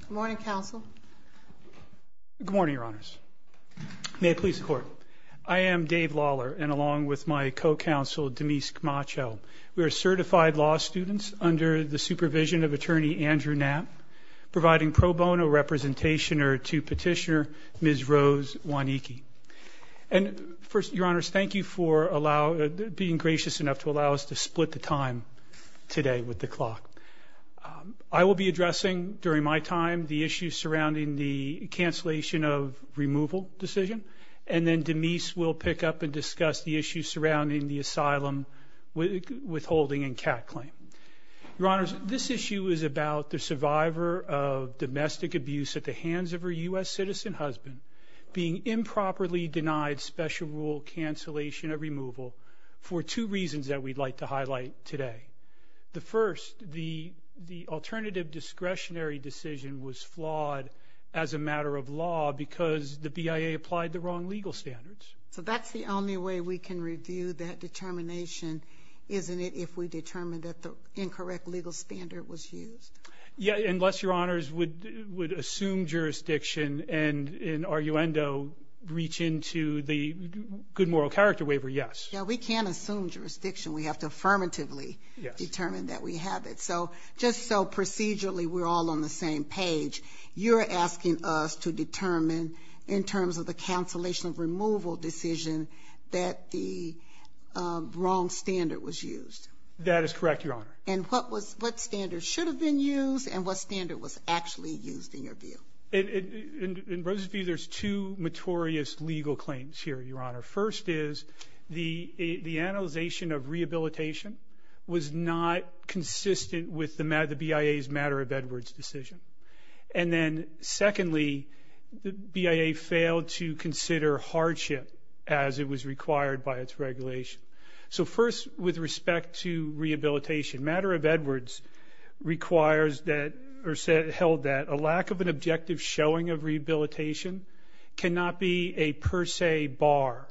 Good morning, Your Honors. May it please the Court. I am Dave Lawler, and along with my co-counsel, Demise Camacho, we are certified law students under the supervision of Attorney Andrew Knapp, providing pro bono representation to Petitioner Ms. Rose Mwaniki. And first, Your Honors, thank you for being gracious enough to allow us to split the time today with the clock. I will be addressing, during my time, the issues surrounding the cancellation of removal decision, and then Demise will pick up and discuss the issues surrounding the asylum withholding and CAT claim. Your Honors, this issue is about the survivor of domestic abuse at the hands of her U.S. citizen husband being improperly denied special rule cancellation of removal for two reasons that we'd like to highlight today. The first, the alternative discretionary decision was flawed as a matter of law because the BIA applied the wrong legal standards. So that's the only way we can review that determination, isn't it, if we determine that the incorrect legal standard was used? Yeah, unless Your Honors would assume jurisdiction and, in arguendo, reach into the good moral character waiver, yes. Yeah, we can't assume jurisdiction. We have to affirmatively determine that we have it. So, just so procedurally we're all on the same page, you're asking us to determine, in terms of the cancellation of removal decision, that the wrong standard was used. That is correct, Your Honor. And what was, what standards should have been used and what standard was actually used in your view? In Rose's view, there's two notorious legal claims here, Your Honor. First is the analyzation of rehabilitation was not consistent with the BIA's matter of Edwards decision. And then secondly, the BIA failed to consider hardship as it was required by its regulation. So first, with respect to rehabilitation, matter of Edwards requires that, or held that, a lack of an objective showing of rehabilitation cannot be a per se bar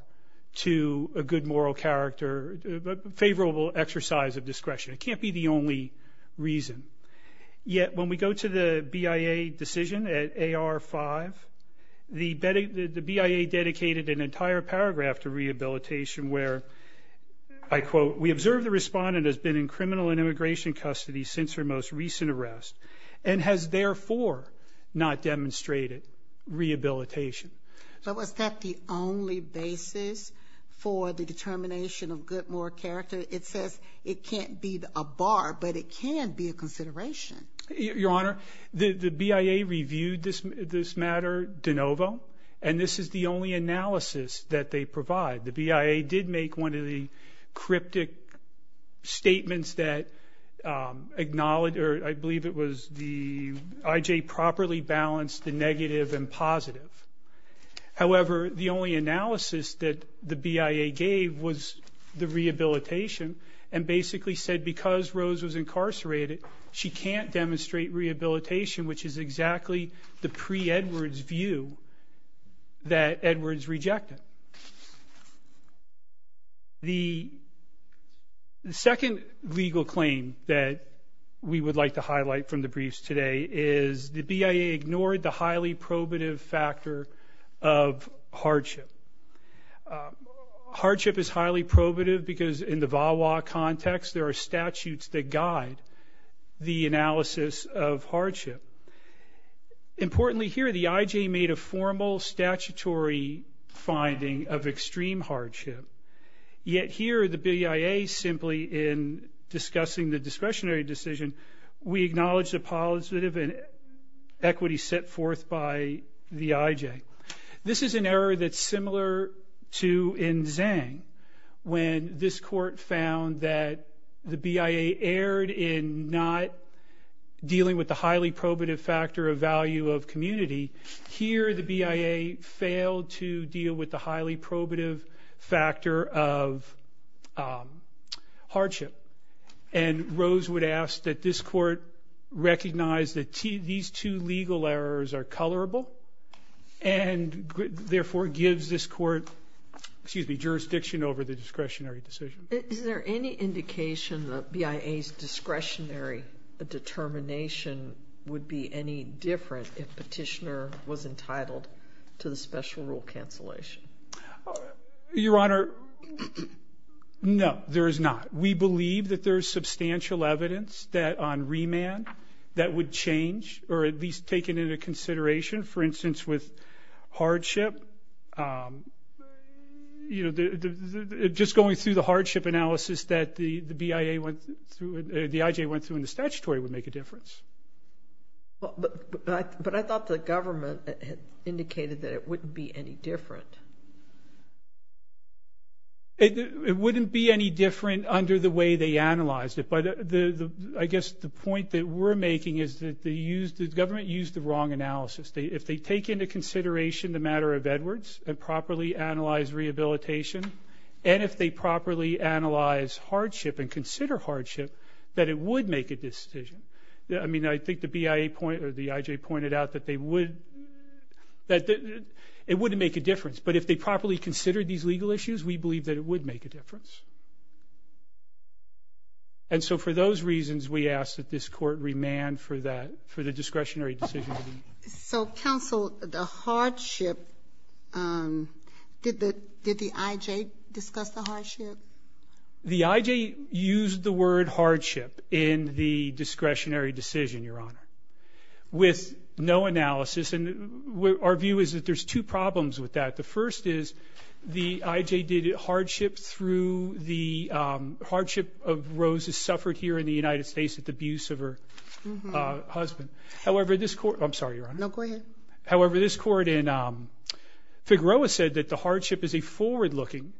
to a good moral character, a favorable exercise of discretion. It can't be the only reason. Yet, when we go to the BIA decision at AR-5, the BIA dedicated an entire paragraph to rehabilitation where, I quote, we observe the respondent has been in criminal and immigration custody since her most recent arrest and has, therefore, not demonstrated rehabilitation. But was that the only basis for the determination of good moral character? It says it can't be a bar, but it can be a consideration. Your Honor, the BIA reviewed this matter de novo, and this is the only analysis that they provide. The BIA did make one of the cryptic statements that acknowledged, or I believe it was the IJ properly balanced the negative and positive. However, the only analysis that the BIA gave was the rehabilitation, and basically said because Rose was incarcerated, she can't demonstrate rehabilitation, which is exactly the pre-Edwards view that Edwards rejected. The second legal claim that we would like to highlight from the briefs today is the BIA ignored the highly probative factor of hardship. Hardship is highly probative because in the VAWA context, there are statutes that guide the analysis of hardship. Importantly here, the IJ made a formal statutory finding of extreme hardship. Yet here, the BIA simply in discussing the discretionary decision, we acknowledge the positive and equity set forth by the IJ. This is an error that's similar to in Zhang when this court found that the BIA erred in not dealing with the highly probative factor of value of community. Here, the BIA failed to deal with the highly probative factor of hardship. Rose would ask that this court recognize that these two legal errors are colorable and therefore gives this court jurisdiction over the discretionary decision. Is there any indication that BIA's discretionary determination would be any different if petitioner was entitled to the special rule cancellation? Your Honor, no, there is not. We believe that there is substantial evidence that on remand that would change or at least taken into consideration. For instance, with hardship, just going through the hardship analysis that the IJ went through in the statutory would make a difference. But I thought the government indicated that it wouldn't be any different. It wouldn't be any different under the way they analyzed it, but I guess the point that we're making is that the government used the wrong analysis. If they take into consideration the matter of Edwards and properly analyze rehabilitation, and if they properly analyze hardship and consider hardship, that it would make a decision. I mean, I think the IJ pointed out that it wouldn't make a difference, but if they properly consider these legal issues, we believe that it would make a difference. And so for those reasons, we ask that this court remand for the discretionary decision. So counsel, the hardship, did the IJ discuss the hardship? The IJ used the word hardship in the discretionary decision, Your Honor, with no analysis. And our view is that there's two problems with that. The first is the IJ did hardship through the hardship of Rose's suffered here in the United States with the abuse of her husband. However, this court, I'm sorry, Your Honor. No, go ahead. However, this court in Figueroa said that the hardship is a forward-looking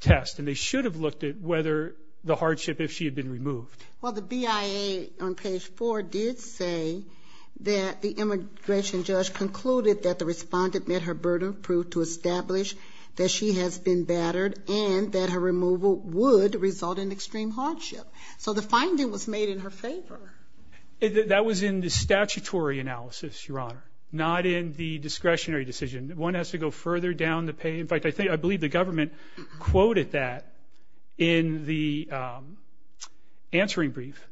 test and they should have looked at whether the hardship, if she had been removed. Well, the BIA on page 4 did say that the immigration judge concluded that the respondent met her burden of proof to establish that she has been battered and that her removal would result in extreme hardship. So the finding was made in her favor. That was in the statutory analysis, Your Honor, not in the discretionary decision. One has to go further down the page. In fact, I believe the government quoted that in the answering brief.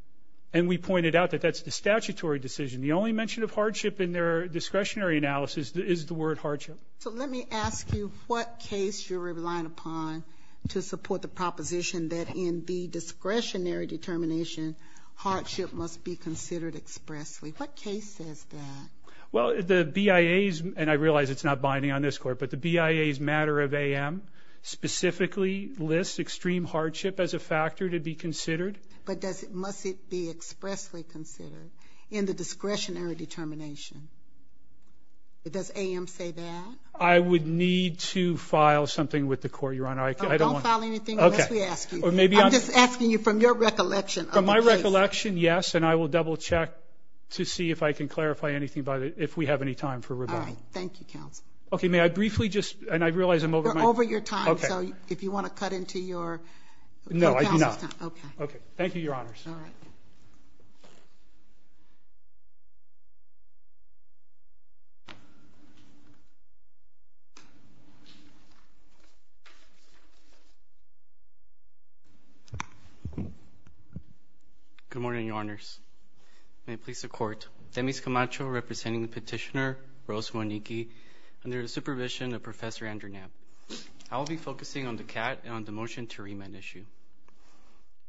And we pointed out that that's the statutory decision. The only mention of hardship in their discretionary analysis is the word hardship. So let me ask you what case you're relying upon to support the proposition that in the discretionary determination, hardship must be considered expressly. What case says that? Well, the BIA's, and I realize it's not binding on this court, but the BIA's matter of AM specifically lists extreme hardship as a factor to be considered. But does it, must it be expressly considered in the discretionary determination? Does AM say that? I would need to file something with the court, Your Honor. Don't file anything unless we ask you. Okay. Or maybe I'm... I'm just asking you from your recollection of the case. From my recollection, yes, and I will double check to see if I can clarify anything about it if we have any time for rebuttal. All right. Thank you, counsel. Okay. May I briefly just, and I realize I'm over my... You're over your time, so if you want to cut into your counsel's time. No, I do not. Okay. Okay. Thank you, Your Honors. Good morning, Your Honors. May it please the court, Demis Camacho representing the petitioner Rose Mwaniki under the supervision of Professor Andrew Knapp. I will be focusing on the CAT and on the motion to remand issue.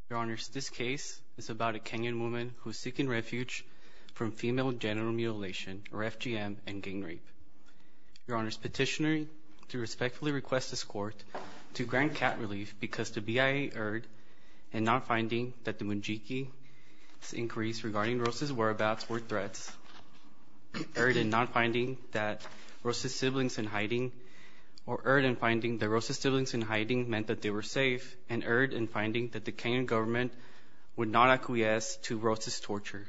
Your Honors, this case is about a Kenyan woman who is seeking refuge from female genital mutilation, or FGM, and gang rape. Your Honors, petitioner to respectfully request this court to grant CAT relief because the Mwaniki's inquiries regarding Rose's whereabouts were threats, erred in finding that Rose's siblings in hiding meant that they were safe, and erred in finding that the Kenyan government would not acquiesce to Rose's torture.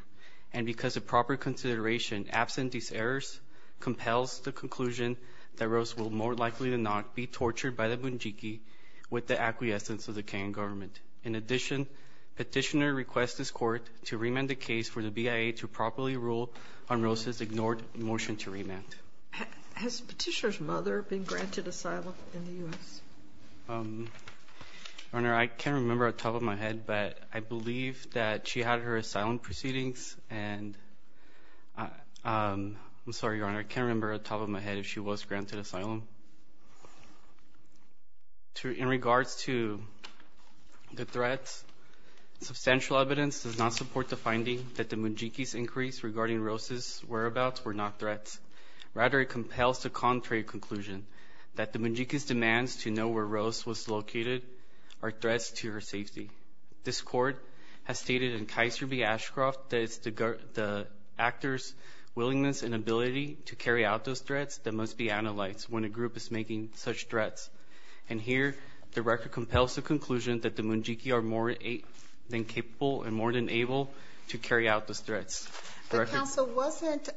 And because of proper consideration, absent these errors compels the conclusion that Rose will more likely than not be tortured by the Mwaniki with the acquiescence of the Kenyan government. In addition, petitioner requests this court to remand the case for the BIA to properly rule on Rose's ignored motion to remand. Has petitioner's mother been granted asylum in the U.S.? Your Honor, I can't remember off the top of my head, but I believe that she had her asylum proceedings and I'm sorry, Your Honor, I can't remember off the top of my head if she was The threats. Substantial evidence does not support the finding that the Mwaniki's inquiries regarding Rose's whereabouts were not threats. Rather, it compels the contrary conclusion that the Mwaniki's demands to know where Rose was located are threats to her safety. This court has stated in Kaiser v. Ashcroft that it's the actor's willingness and ability to carry out those threats that must be analyzed when a group is making such threats. And here, the record compels the conclusion that the Mwaniki are more than capable and more than able to carry out those threats. But counsel, wasn't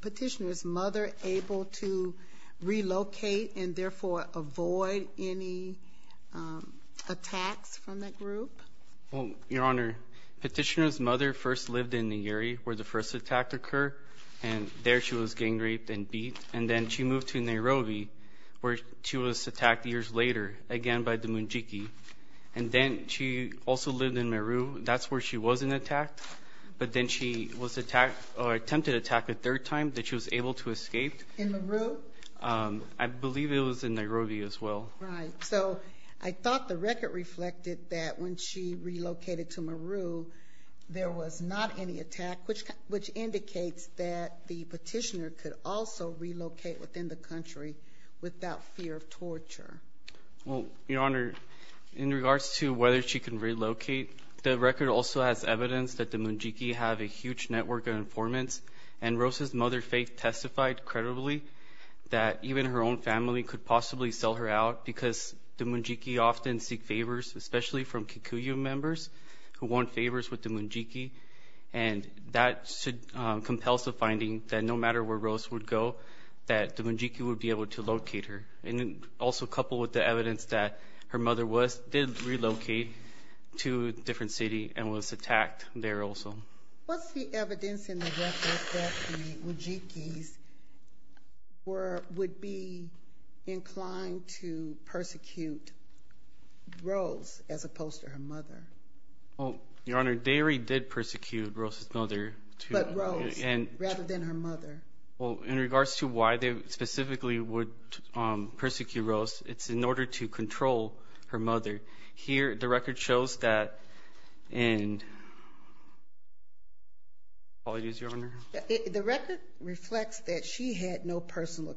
petitioner's mother able to relocate and therefore avoid any attacks from that group? Your Honor, petitioner's mother first lived in the area where the first attack occurred and there she was gang raped and beat. And then she moved to Nairobi where she was attacked years later again by the Mwaniki. And then she also lived in Meru. That's where she wasn't attacked. But then she was attacked or attempted attack a third time that she was able to escape. In Meru? I believe it was in Nairobi as well. Right. So I thought the record reflected that when she relocated to Meru there was not any attack which indicates that the petitioner could also relocate within the country without fear of torture. Well, Your Honor, in regards to whether she can relocate, the record also has evidence that the Mwaniki have a huge network of informants. And Rose's mother Faith testified credibly that even her own family could possibly sell her out because the Mwaniki often seek favors, especially from Kikuyu members who want favors with the Mwaniki. And that compels the finding that no matter where Rose would go, that the Mwaniki would be able to locate her. And also coupled with the evidence that her mother was, did relocate to a different city and was attacked there also. What's the evidence in the record that the Mwaniki would be inclined to persecute Rose as opposed to her mother? Well, Your Honor, they already did persecute Rose's mother. But Rose, rather than her mother. Well, in regards to why they specifically would persecute Rose, it's in order to control her mother. Here, the record shows that, and, apologies, Your Honor. The record reflects that she had no personal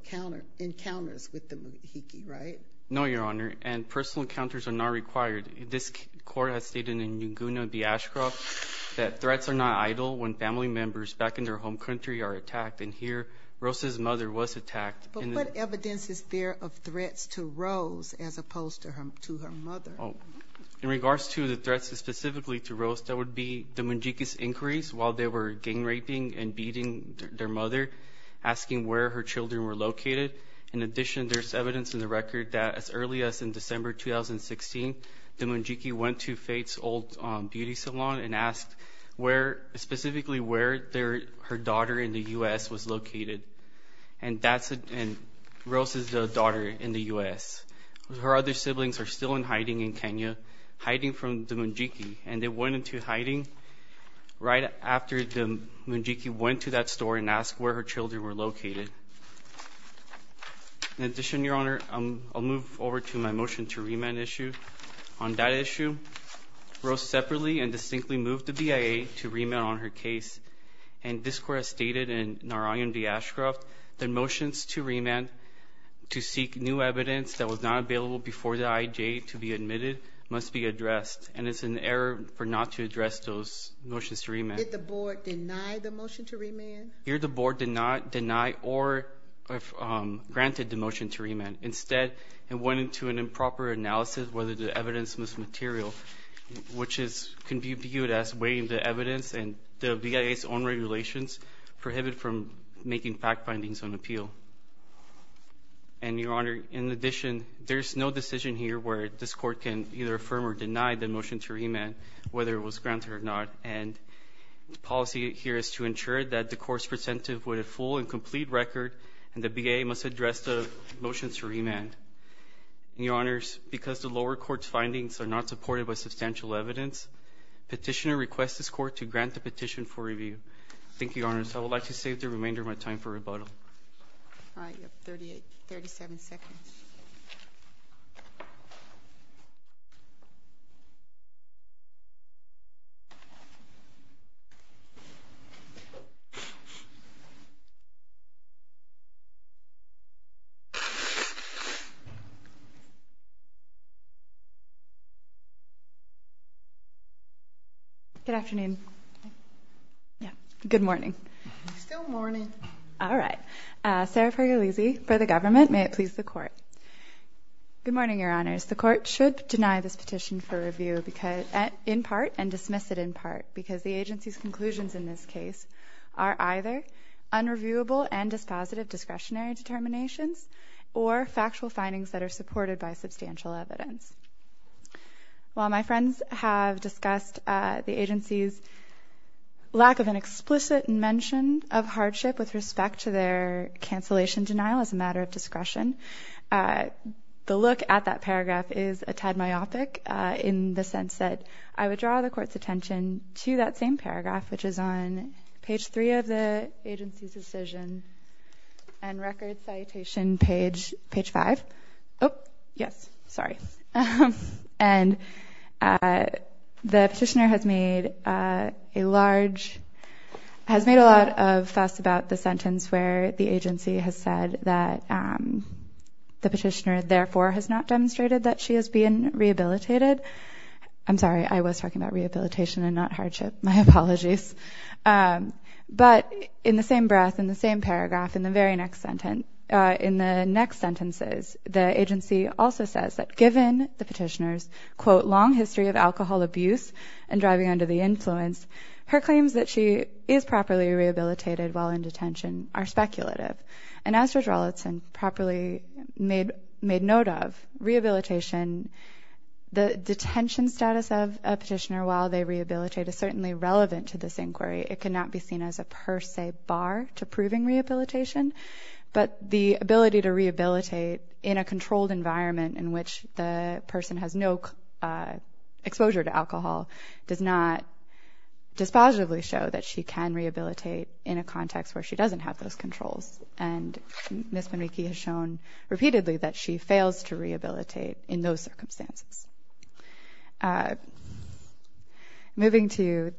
encounters with the Mwaniki, right? No, Your Honor. And personal encounters are not required. This court has stated in Yunguna v. Ashcroft that threats are not idle when family members back in their home country are attacked. And here, Rose's mother was attacked. But what evidence is there of threats to Rose as opposed to her mother? In regards to the threats specifically to Rose, that would be the Mwaniki's inquiries while they were gang raping and beating their mother, asking where her children were located. In addition, there's evidence in the record that as early as in December 2016, the Mwaniki went to Faith's Old Beauty Salon and asked specifically where her daughter in the U.S. was located. And that's Rose's daughter in the U.S. Her other siblings are still in hiding in Kenya, hiding from the Mwaniki. And they went into hiding right after the Mwaniki went to that store and asked where her children were located. In addition, Your Honor, I'll move over to my motion to remand issue. On that issue, Rose separately and distinctly moved the BIA to remand on her case. And this court has stated in Narayan v. Ashcroft that motions to remand to seek new evidence that was not available before the IJ to be admitted must be addressed. And it's an error for not to address those motions to remand. Did the board deny the motion to remand? Here the board did not deny or grant the motion to remand. Instead, it went into an improper analysis whether the evidence was material, which can be viewed as weighing the evidence and the BIA's own regulations prohibit from making fact findings on appeal. And Your Honor, in addition, there's no decision here where this court can either affirm or deny the motion to remand, whether it was granted or not. And the policy here is to enforce presentive with a full and complete record and the BIA must address the motions to remand. And Your Honors, because the lower court's findings are not supported by substantial evidence, petitioner requests this court to grant the petition for review. Thank you, Your Honors. I would like to save the remainder of my time for rebuttal. All right, you have 38, 37 seconds. Good afternoon. Yeah, good morning. Still morning. All right. Sarah Pergolese for the government. May it please the court. Good morning, Your Honors. The court should deny this petition for review in part and dismiss it in part because the agency's conclusions in this case are either unreviewable and dispositive discretionary determinations or factual findings that are supported by substantial evidence. While my friends have discussed the agency's lack of an explicit mention of hardship with respect to their cancellation denial as a matter of discretion, the look at that paragraph is a tad myopic in the sense that I would draw the court's attention to that same paragraph, which is on page three of the agency's decision and record citation page five. Oh, yes. Sorry. And the petitioner has made a large mistake and has made a lot of fuss about the sentence where the agency has said that the petitioner therefore has not demonstrated that she is being rehabilitated. I'm sorry. I was talking about rehabilitation and not hardship. My apologies. But in the same breath, in the same paragraph, in the very next sentence, in the next sentences, the agency also says that given the petitioner's quote long history of alcohol abuse and driving under the influence, her claims that she is properly rehabilitated while in detention are speculative. And as Judge Rollitzen properly made note of, rehabilitation, the detention status of a petitioner while they rehabilitate is certainly relevant to this inquiry. It cannot be seen as a per se bar to proving rehabilitation. But the ability to rehabilitate in a controlled environment in which the person has no exposure to alcohol does not dispositively show that she can rehabilitate in a context where she doesn't have those controls. And Ms. Panicki has shown repeatedly that she fails to rehabilitate in those circumstances. Moving to,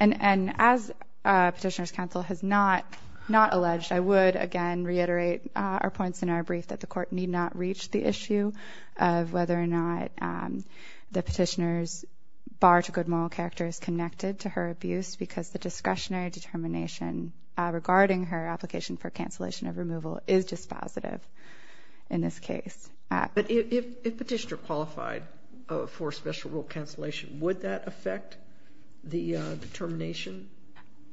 and as petitioner's counsel has not, not alleged, I would again reiterate our points in our brief that the court need not reach the issue of whether or not the petitioner's bar to good moral character is connected to her abuse because the discretionary determination regarding her application for cancellation of removal is dispositive in this case. But if petitioner qualified for special rule cancellation, would that affect the determination?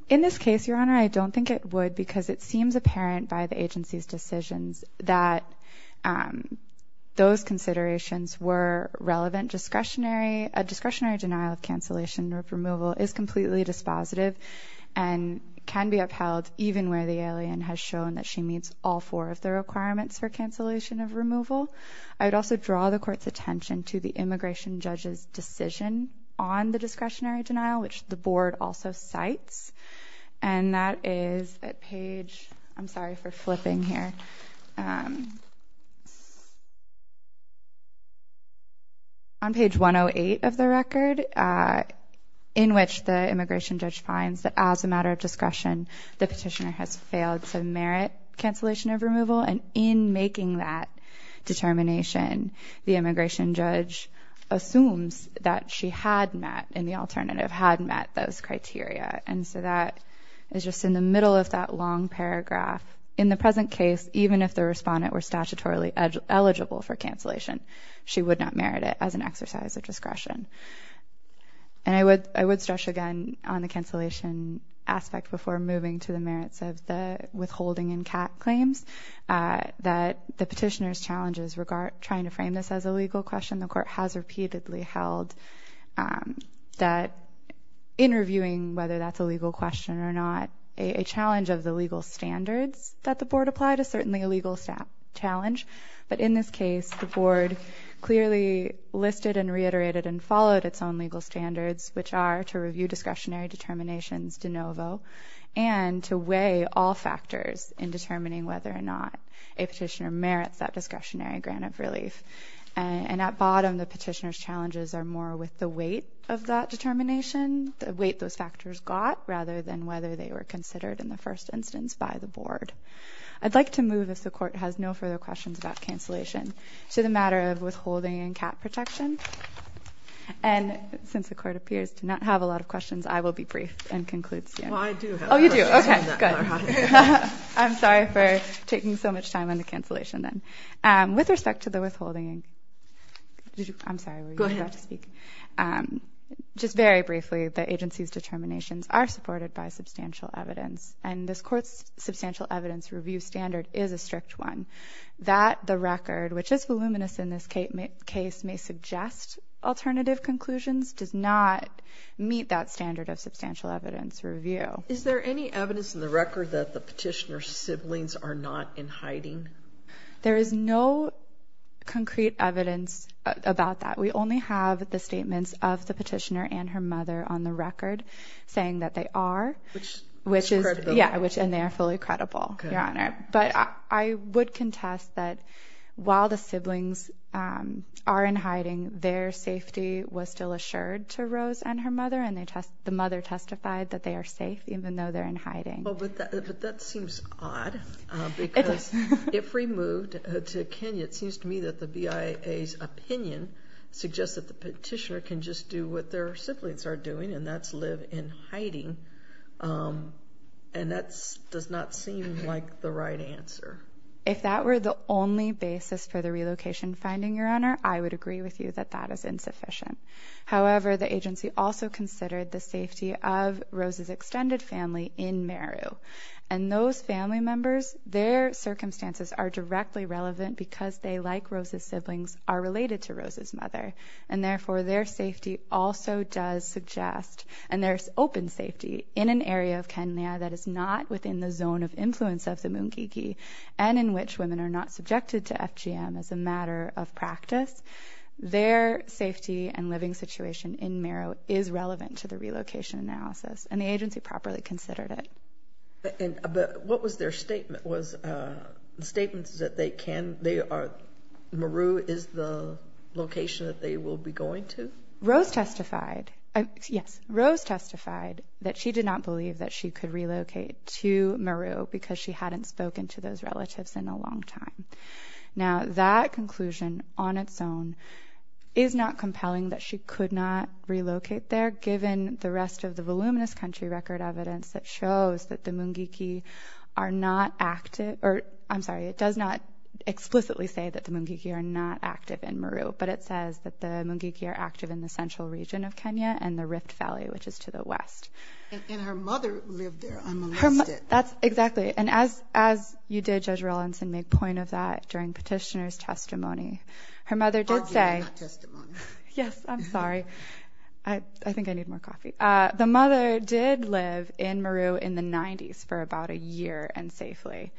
In this case, Your Honor, I don't think it would because it seems apparent by the agency's decisions that those considerations were relevant. Discretionary, a discretionary denial of cancellation of removal is completely dispositive and can be upheld even where the alien has shown that she meets all four of the requirements for cancellation of removal. I would also draw the court's attention to the immigration judge's decision on the discretionary denial, which the board also cites. And that is at page, I'm sorry for flipping here, on page 108 of the record, in which the immigration judge finds that as a matter of discretion, the petitioner has failed to merit cancellation of removal. And in making that determination, the immigration judge assumes that she had met and the alternative had met those criteria. And so that is just in the middle of that long paragraph. In the present case, even if the respondent were statutorily eligible for cancellation, she would not merit it as an exercise of discretion. And I would stress again on the cancellation aspect before moving to the merits of the withholding and CAT claims that the petitioner's challenges regarding trying to frame this as a legal question, the court has repeatedly held that in reviewing whether that's a legal question or not, a challenge of the legal standards that the board applied is certainly a legal challenge. But in this case, the board clearly listed and reiterated and followed its own legal standards, which are to review discretionary determinations de novo and to weigh all factors in determining whether or not a petitioner merits that discretionary grant of relief. And at bottom, the petitioner's challenges are more with the weight of that determination, the weight those factors got, rather than whether they were considered in the first instance by the board. I'd like to move, if the court has no further questions about cancellation, to the matter of withholding and CAT protection. And since the court appears to not have a lot of questions, I will be brief and conclude soon. Well, I do have a question on that, Clara. Oh, you do? Okay, good. I'm sorry for taking so much time on the cancellation then. With respect to the withholding, I'm sorry, were you about to speak? Go ahead. Just very briefly, the agency's determinations are supported by substantial evidence. And this court's substantial evidence review standard is a strict one. That the record, which is voluminous in this case, may suggest alternative conclusions, does not meet that standard of substantial evidence review. Is there any evidence in the record that the petitioner's siblings are not in hiding? There is no concrete evidence about that. We only have the statements of the petitioner and her mother on the record saying that they are. Which is credible. Yeah, and they are fully credible, Your Honor. But I would contest that while the siblings are in hiding, their safety was still assured to Rose and her mother, and the mother testified But that seems odd, because if removed to Kenya, it seems to me that the BIA's opinion suggests that the petitioner can just do what their siblings are doing, and that's live in hiding. And that does not seem like the right answer. If that were the only basis for the relocation finding, Your Honor, I would agree with you that that is insufficient. However, the agency also considered the safety of Rose's extended family in Meru. And those family members, their circumstances are directly relevant because they, like Rose's siblings, are related to Rose's mother. And therefore, their safety also does suggest, and there's open safety in an area of Kenya that is not within the zone of influence of the Mungiki, and in which women are not subjected to FGM as a matter of practice. Their safety and living situation in Meru is relevant to the relocation analysis, and the agency properly considered it. And what was their statement? Was the statement that they can, they are, Meru is the location that they will be going to? Rose testified, yes, Rose testified that she did not believe that she could relocate to Meru because she hadn't spoken to those relatives in a long time. Now, that conclusion on its own is not compelling that she could not relocate there, given the rest of the voluminous country record evidence that shows that the Mungiki are not active, or, I'm sorry, it does not explicitly say that the Mungiki are not active in Meru, but it says that the Mungiki are active in the central region of Kenya and the Rift Valley, which is to the west. And her mother lived there unmolested. That's, exactly. And as, as you did, Judge Rawlinson, make point of that during petitioner's testimony, her mother did say. Arguably not testimony. Yes, I'm sorry. I, I think I need more coffee. The mother did live in Meru in the 90s for about a year and safely.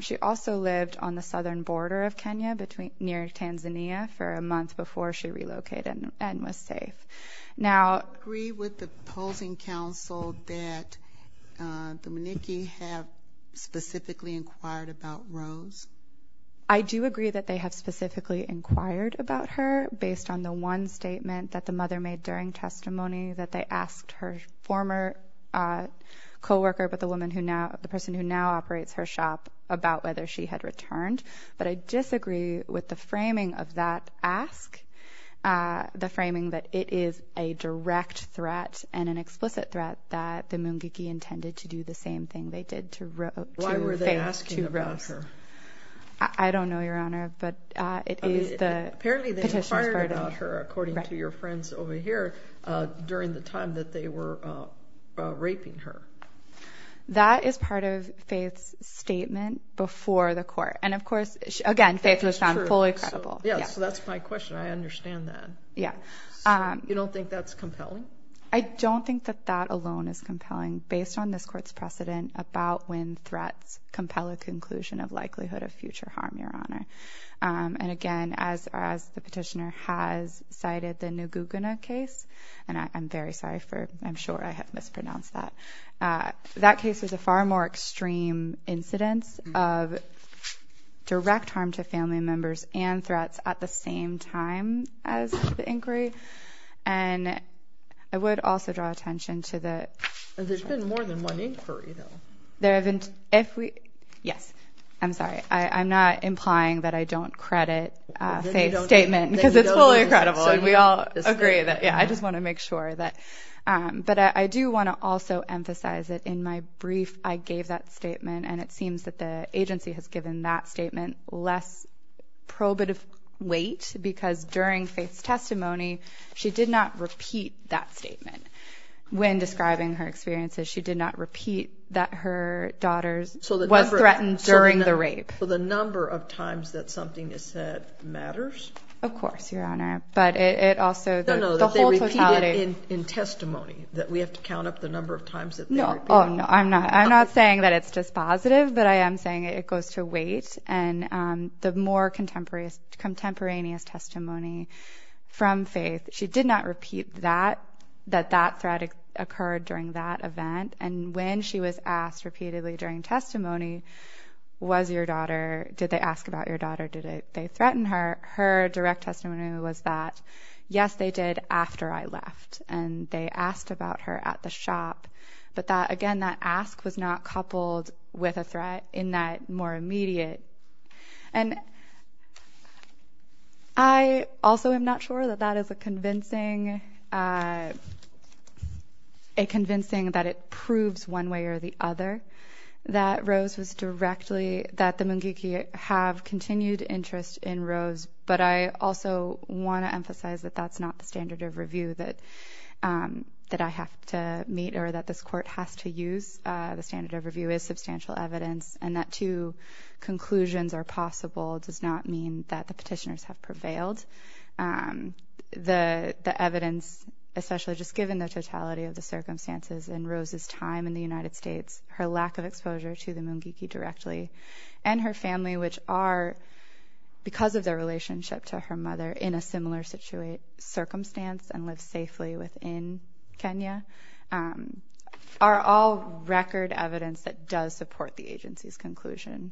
She also lived on the southern border of Kenya between, near Tanzania for a month before she relocated and was safe. Now. Agree with the opposing counsel that the Mungiki have specifically inquired about Rose? I do agree that they have specifically inquired about her based on the one statement that the mother made during testimony that they asked her former co-worker, but the woman who now, the person who now operates her shop about whether she had returned. But I disagree with the framing of that ask. The framing that it is a direct threat and an explicit threat that the Mungiki intended to do the same thing they did to Rose. Why were they asking about her? I don't know your honor, but it is the. Apparently they inquired about her according to your friends over here during the time that they were raping her. That is part of Faith's statement before the court. And of course, again, Faith was found fully credible. Yeah, so that's my question. I understand that. Yeah. You don't think that's compelling? I don't think that that alone is compelling based on this court's precedent about when threats compel a conclusion of likelihood of future harm, your honor. And again, as far as the petitioner has cited the new Guggenheim case, and I'm very sorry for I'm sure I have mispronounced that. That case was a far more extreme incidence of direct harm to family members and threats at the same time as the inquiry. And I would also draw attention to the. There's been more than one inquiry, though. If we yes, I'm sorry, I'm not implying that I don't credit Faith's statement because it's fully credible and we all agree that. Yeah, I just want to make sure that but I do want to also emphasize that in my brief, I gave that statement and it seems that the agency has given that statement less probative weight because during Faith's testimony, she did not repeat that statement when describing her experiences. She did not repeat that her daughter was threatened during the rape. So the number of times that something is said matters. Of course, your honor. But it also the whole totality in testimony that we have to count up the number of times that no, no, I'm not. I'm not saying that it's just positive, but I am saying it goes to weight. And the more contemporaneous contemporaneous testimony from Faith. She did not repeat that that that threat occurred during that event. And when she was asked repeatedly during testimony, was your daughter? Did they ask about your daughter? Did they threaten her? Her direct testimony was that, yes, they did after I left and they asked about her at the shop. But that again, that ask was not coupled with a threat in that more immediate. And I also am not sure that that is a convincing a convincing that it proves one way or the other that Rose was directly that the Mungiki have continued interest in Rose. But I also want to emphasize that that's not the standard of review that that I have to meet or that this court has to use. The standard of review is substantial evidence and that two conclusions are possible does not mean that the petitioners have prevailed. The evidence, especially just given the totality of the circumstances in Rose's time in the United States, her lack of exposure to the Mungiki directly and her family, which are because of their relationship to her mother in a similar situation, circumstance and live within Kenya are all record evidence that does support the agency's conclusion,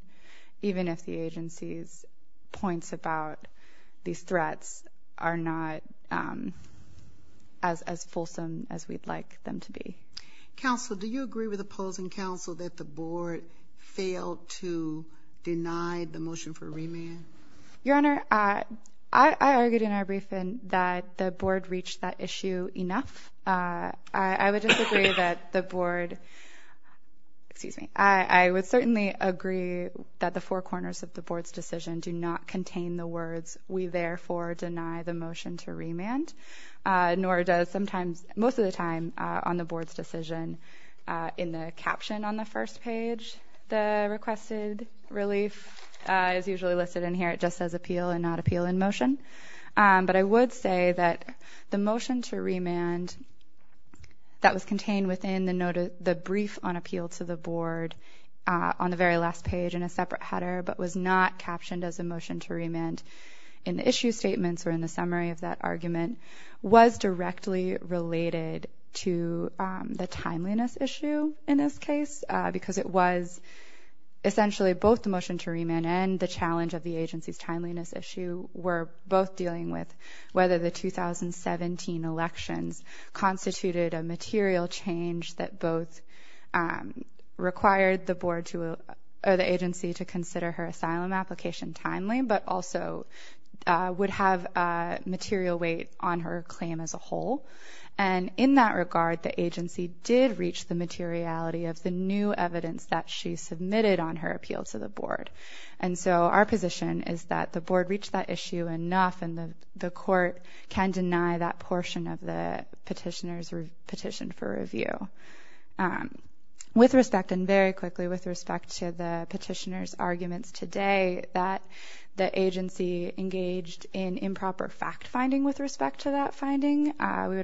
even if the agency's points about these threats are not as fulsome as we'd like them to be. Counsel, do you agree with opposing counsel that the board failed to deny the motion for remand? Your Honor, I argued in our briefing that the board reached that issue enough. I would disagree that the board. Excuse me. I would certainly agree that the four corners of the board's decision do not contain the words. We therefore deny the motion to remand, nor does sometimes most of the time on the board's decision in the caption on the first page. The requested relief is usually listed in here. It just says appeal and not appeal in motion. But I would say that the motion to remand that was contained within the brief on appeal to the board on the very last page in a separate header, but was not captioned as a motion to remand in the issue statements or in the summary of that argument, was directly related to the timeliness issue in this case, because it was essentially both the motion to remand and the challenge of the agency's timeliness issue were both dealing with whether the 2017 elections constituted a material change that both required the agency to consider her asylum application timely, but also would have a material weight on her claim as a whole. And in that regard, the agency did reach the materiality of the new evidence that she submitted on her appeal to the board. And so our position is that the board reached that issue enough and the court can deny that portion of the petitioner's petition for review. With respect and very quickly with respect to the petitioner's arguments today that the we would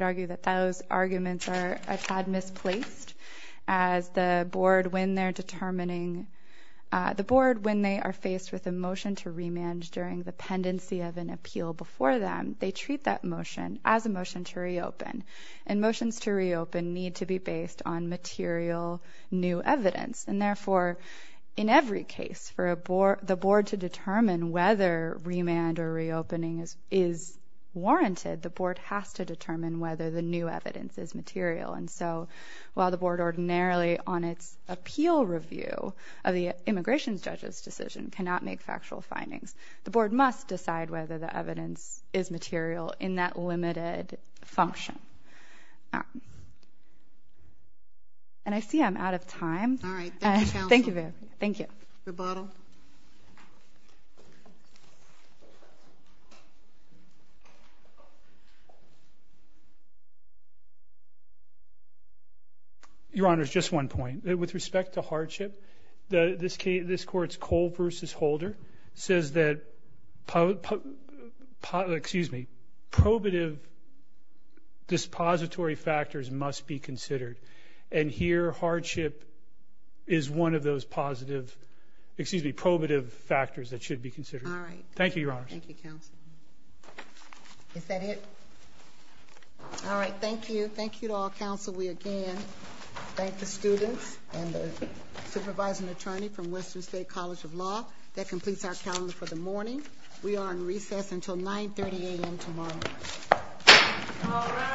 argue that those arguments are a tad misplaced as the board when they're determining the board when they are faced with a motion to remand during the pendency of an appeal before them, they treat that motion as a motion to reopen and motions to reopen need to be based on material new evidence. And therefore, in every case for the board to determine whether remand or reopening is warranted, the board has to determine whether the new evidence is material. And so while the board ordinarily on its appeal review of the immigration judge's decision cannot make factual findings, the board must decide whether the evidence is material in that limited function. And I see I'm out of time. All right. Thank you. Thank you. The bottle. Your Honor, it's just one point with respect to hardship. The this case, this court's Cole versus Holder says that, excuse me, probative. This pository factors must be considered. And here, hardship is one of those positive, excuse me, probative factors that should be considered. All right. Thank you, Your Honor. Thank you, Counsel. Is that it? All right. Thank you. Thank you to all counsel. We again thank the students and the supervising attorney from Western State College of Law that completes our calendar for the morning. We are in recess until 9 30 a.m. Tomorrow.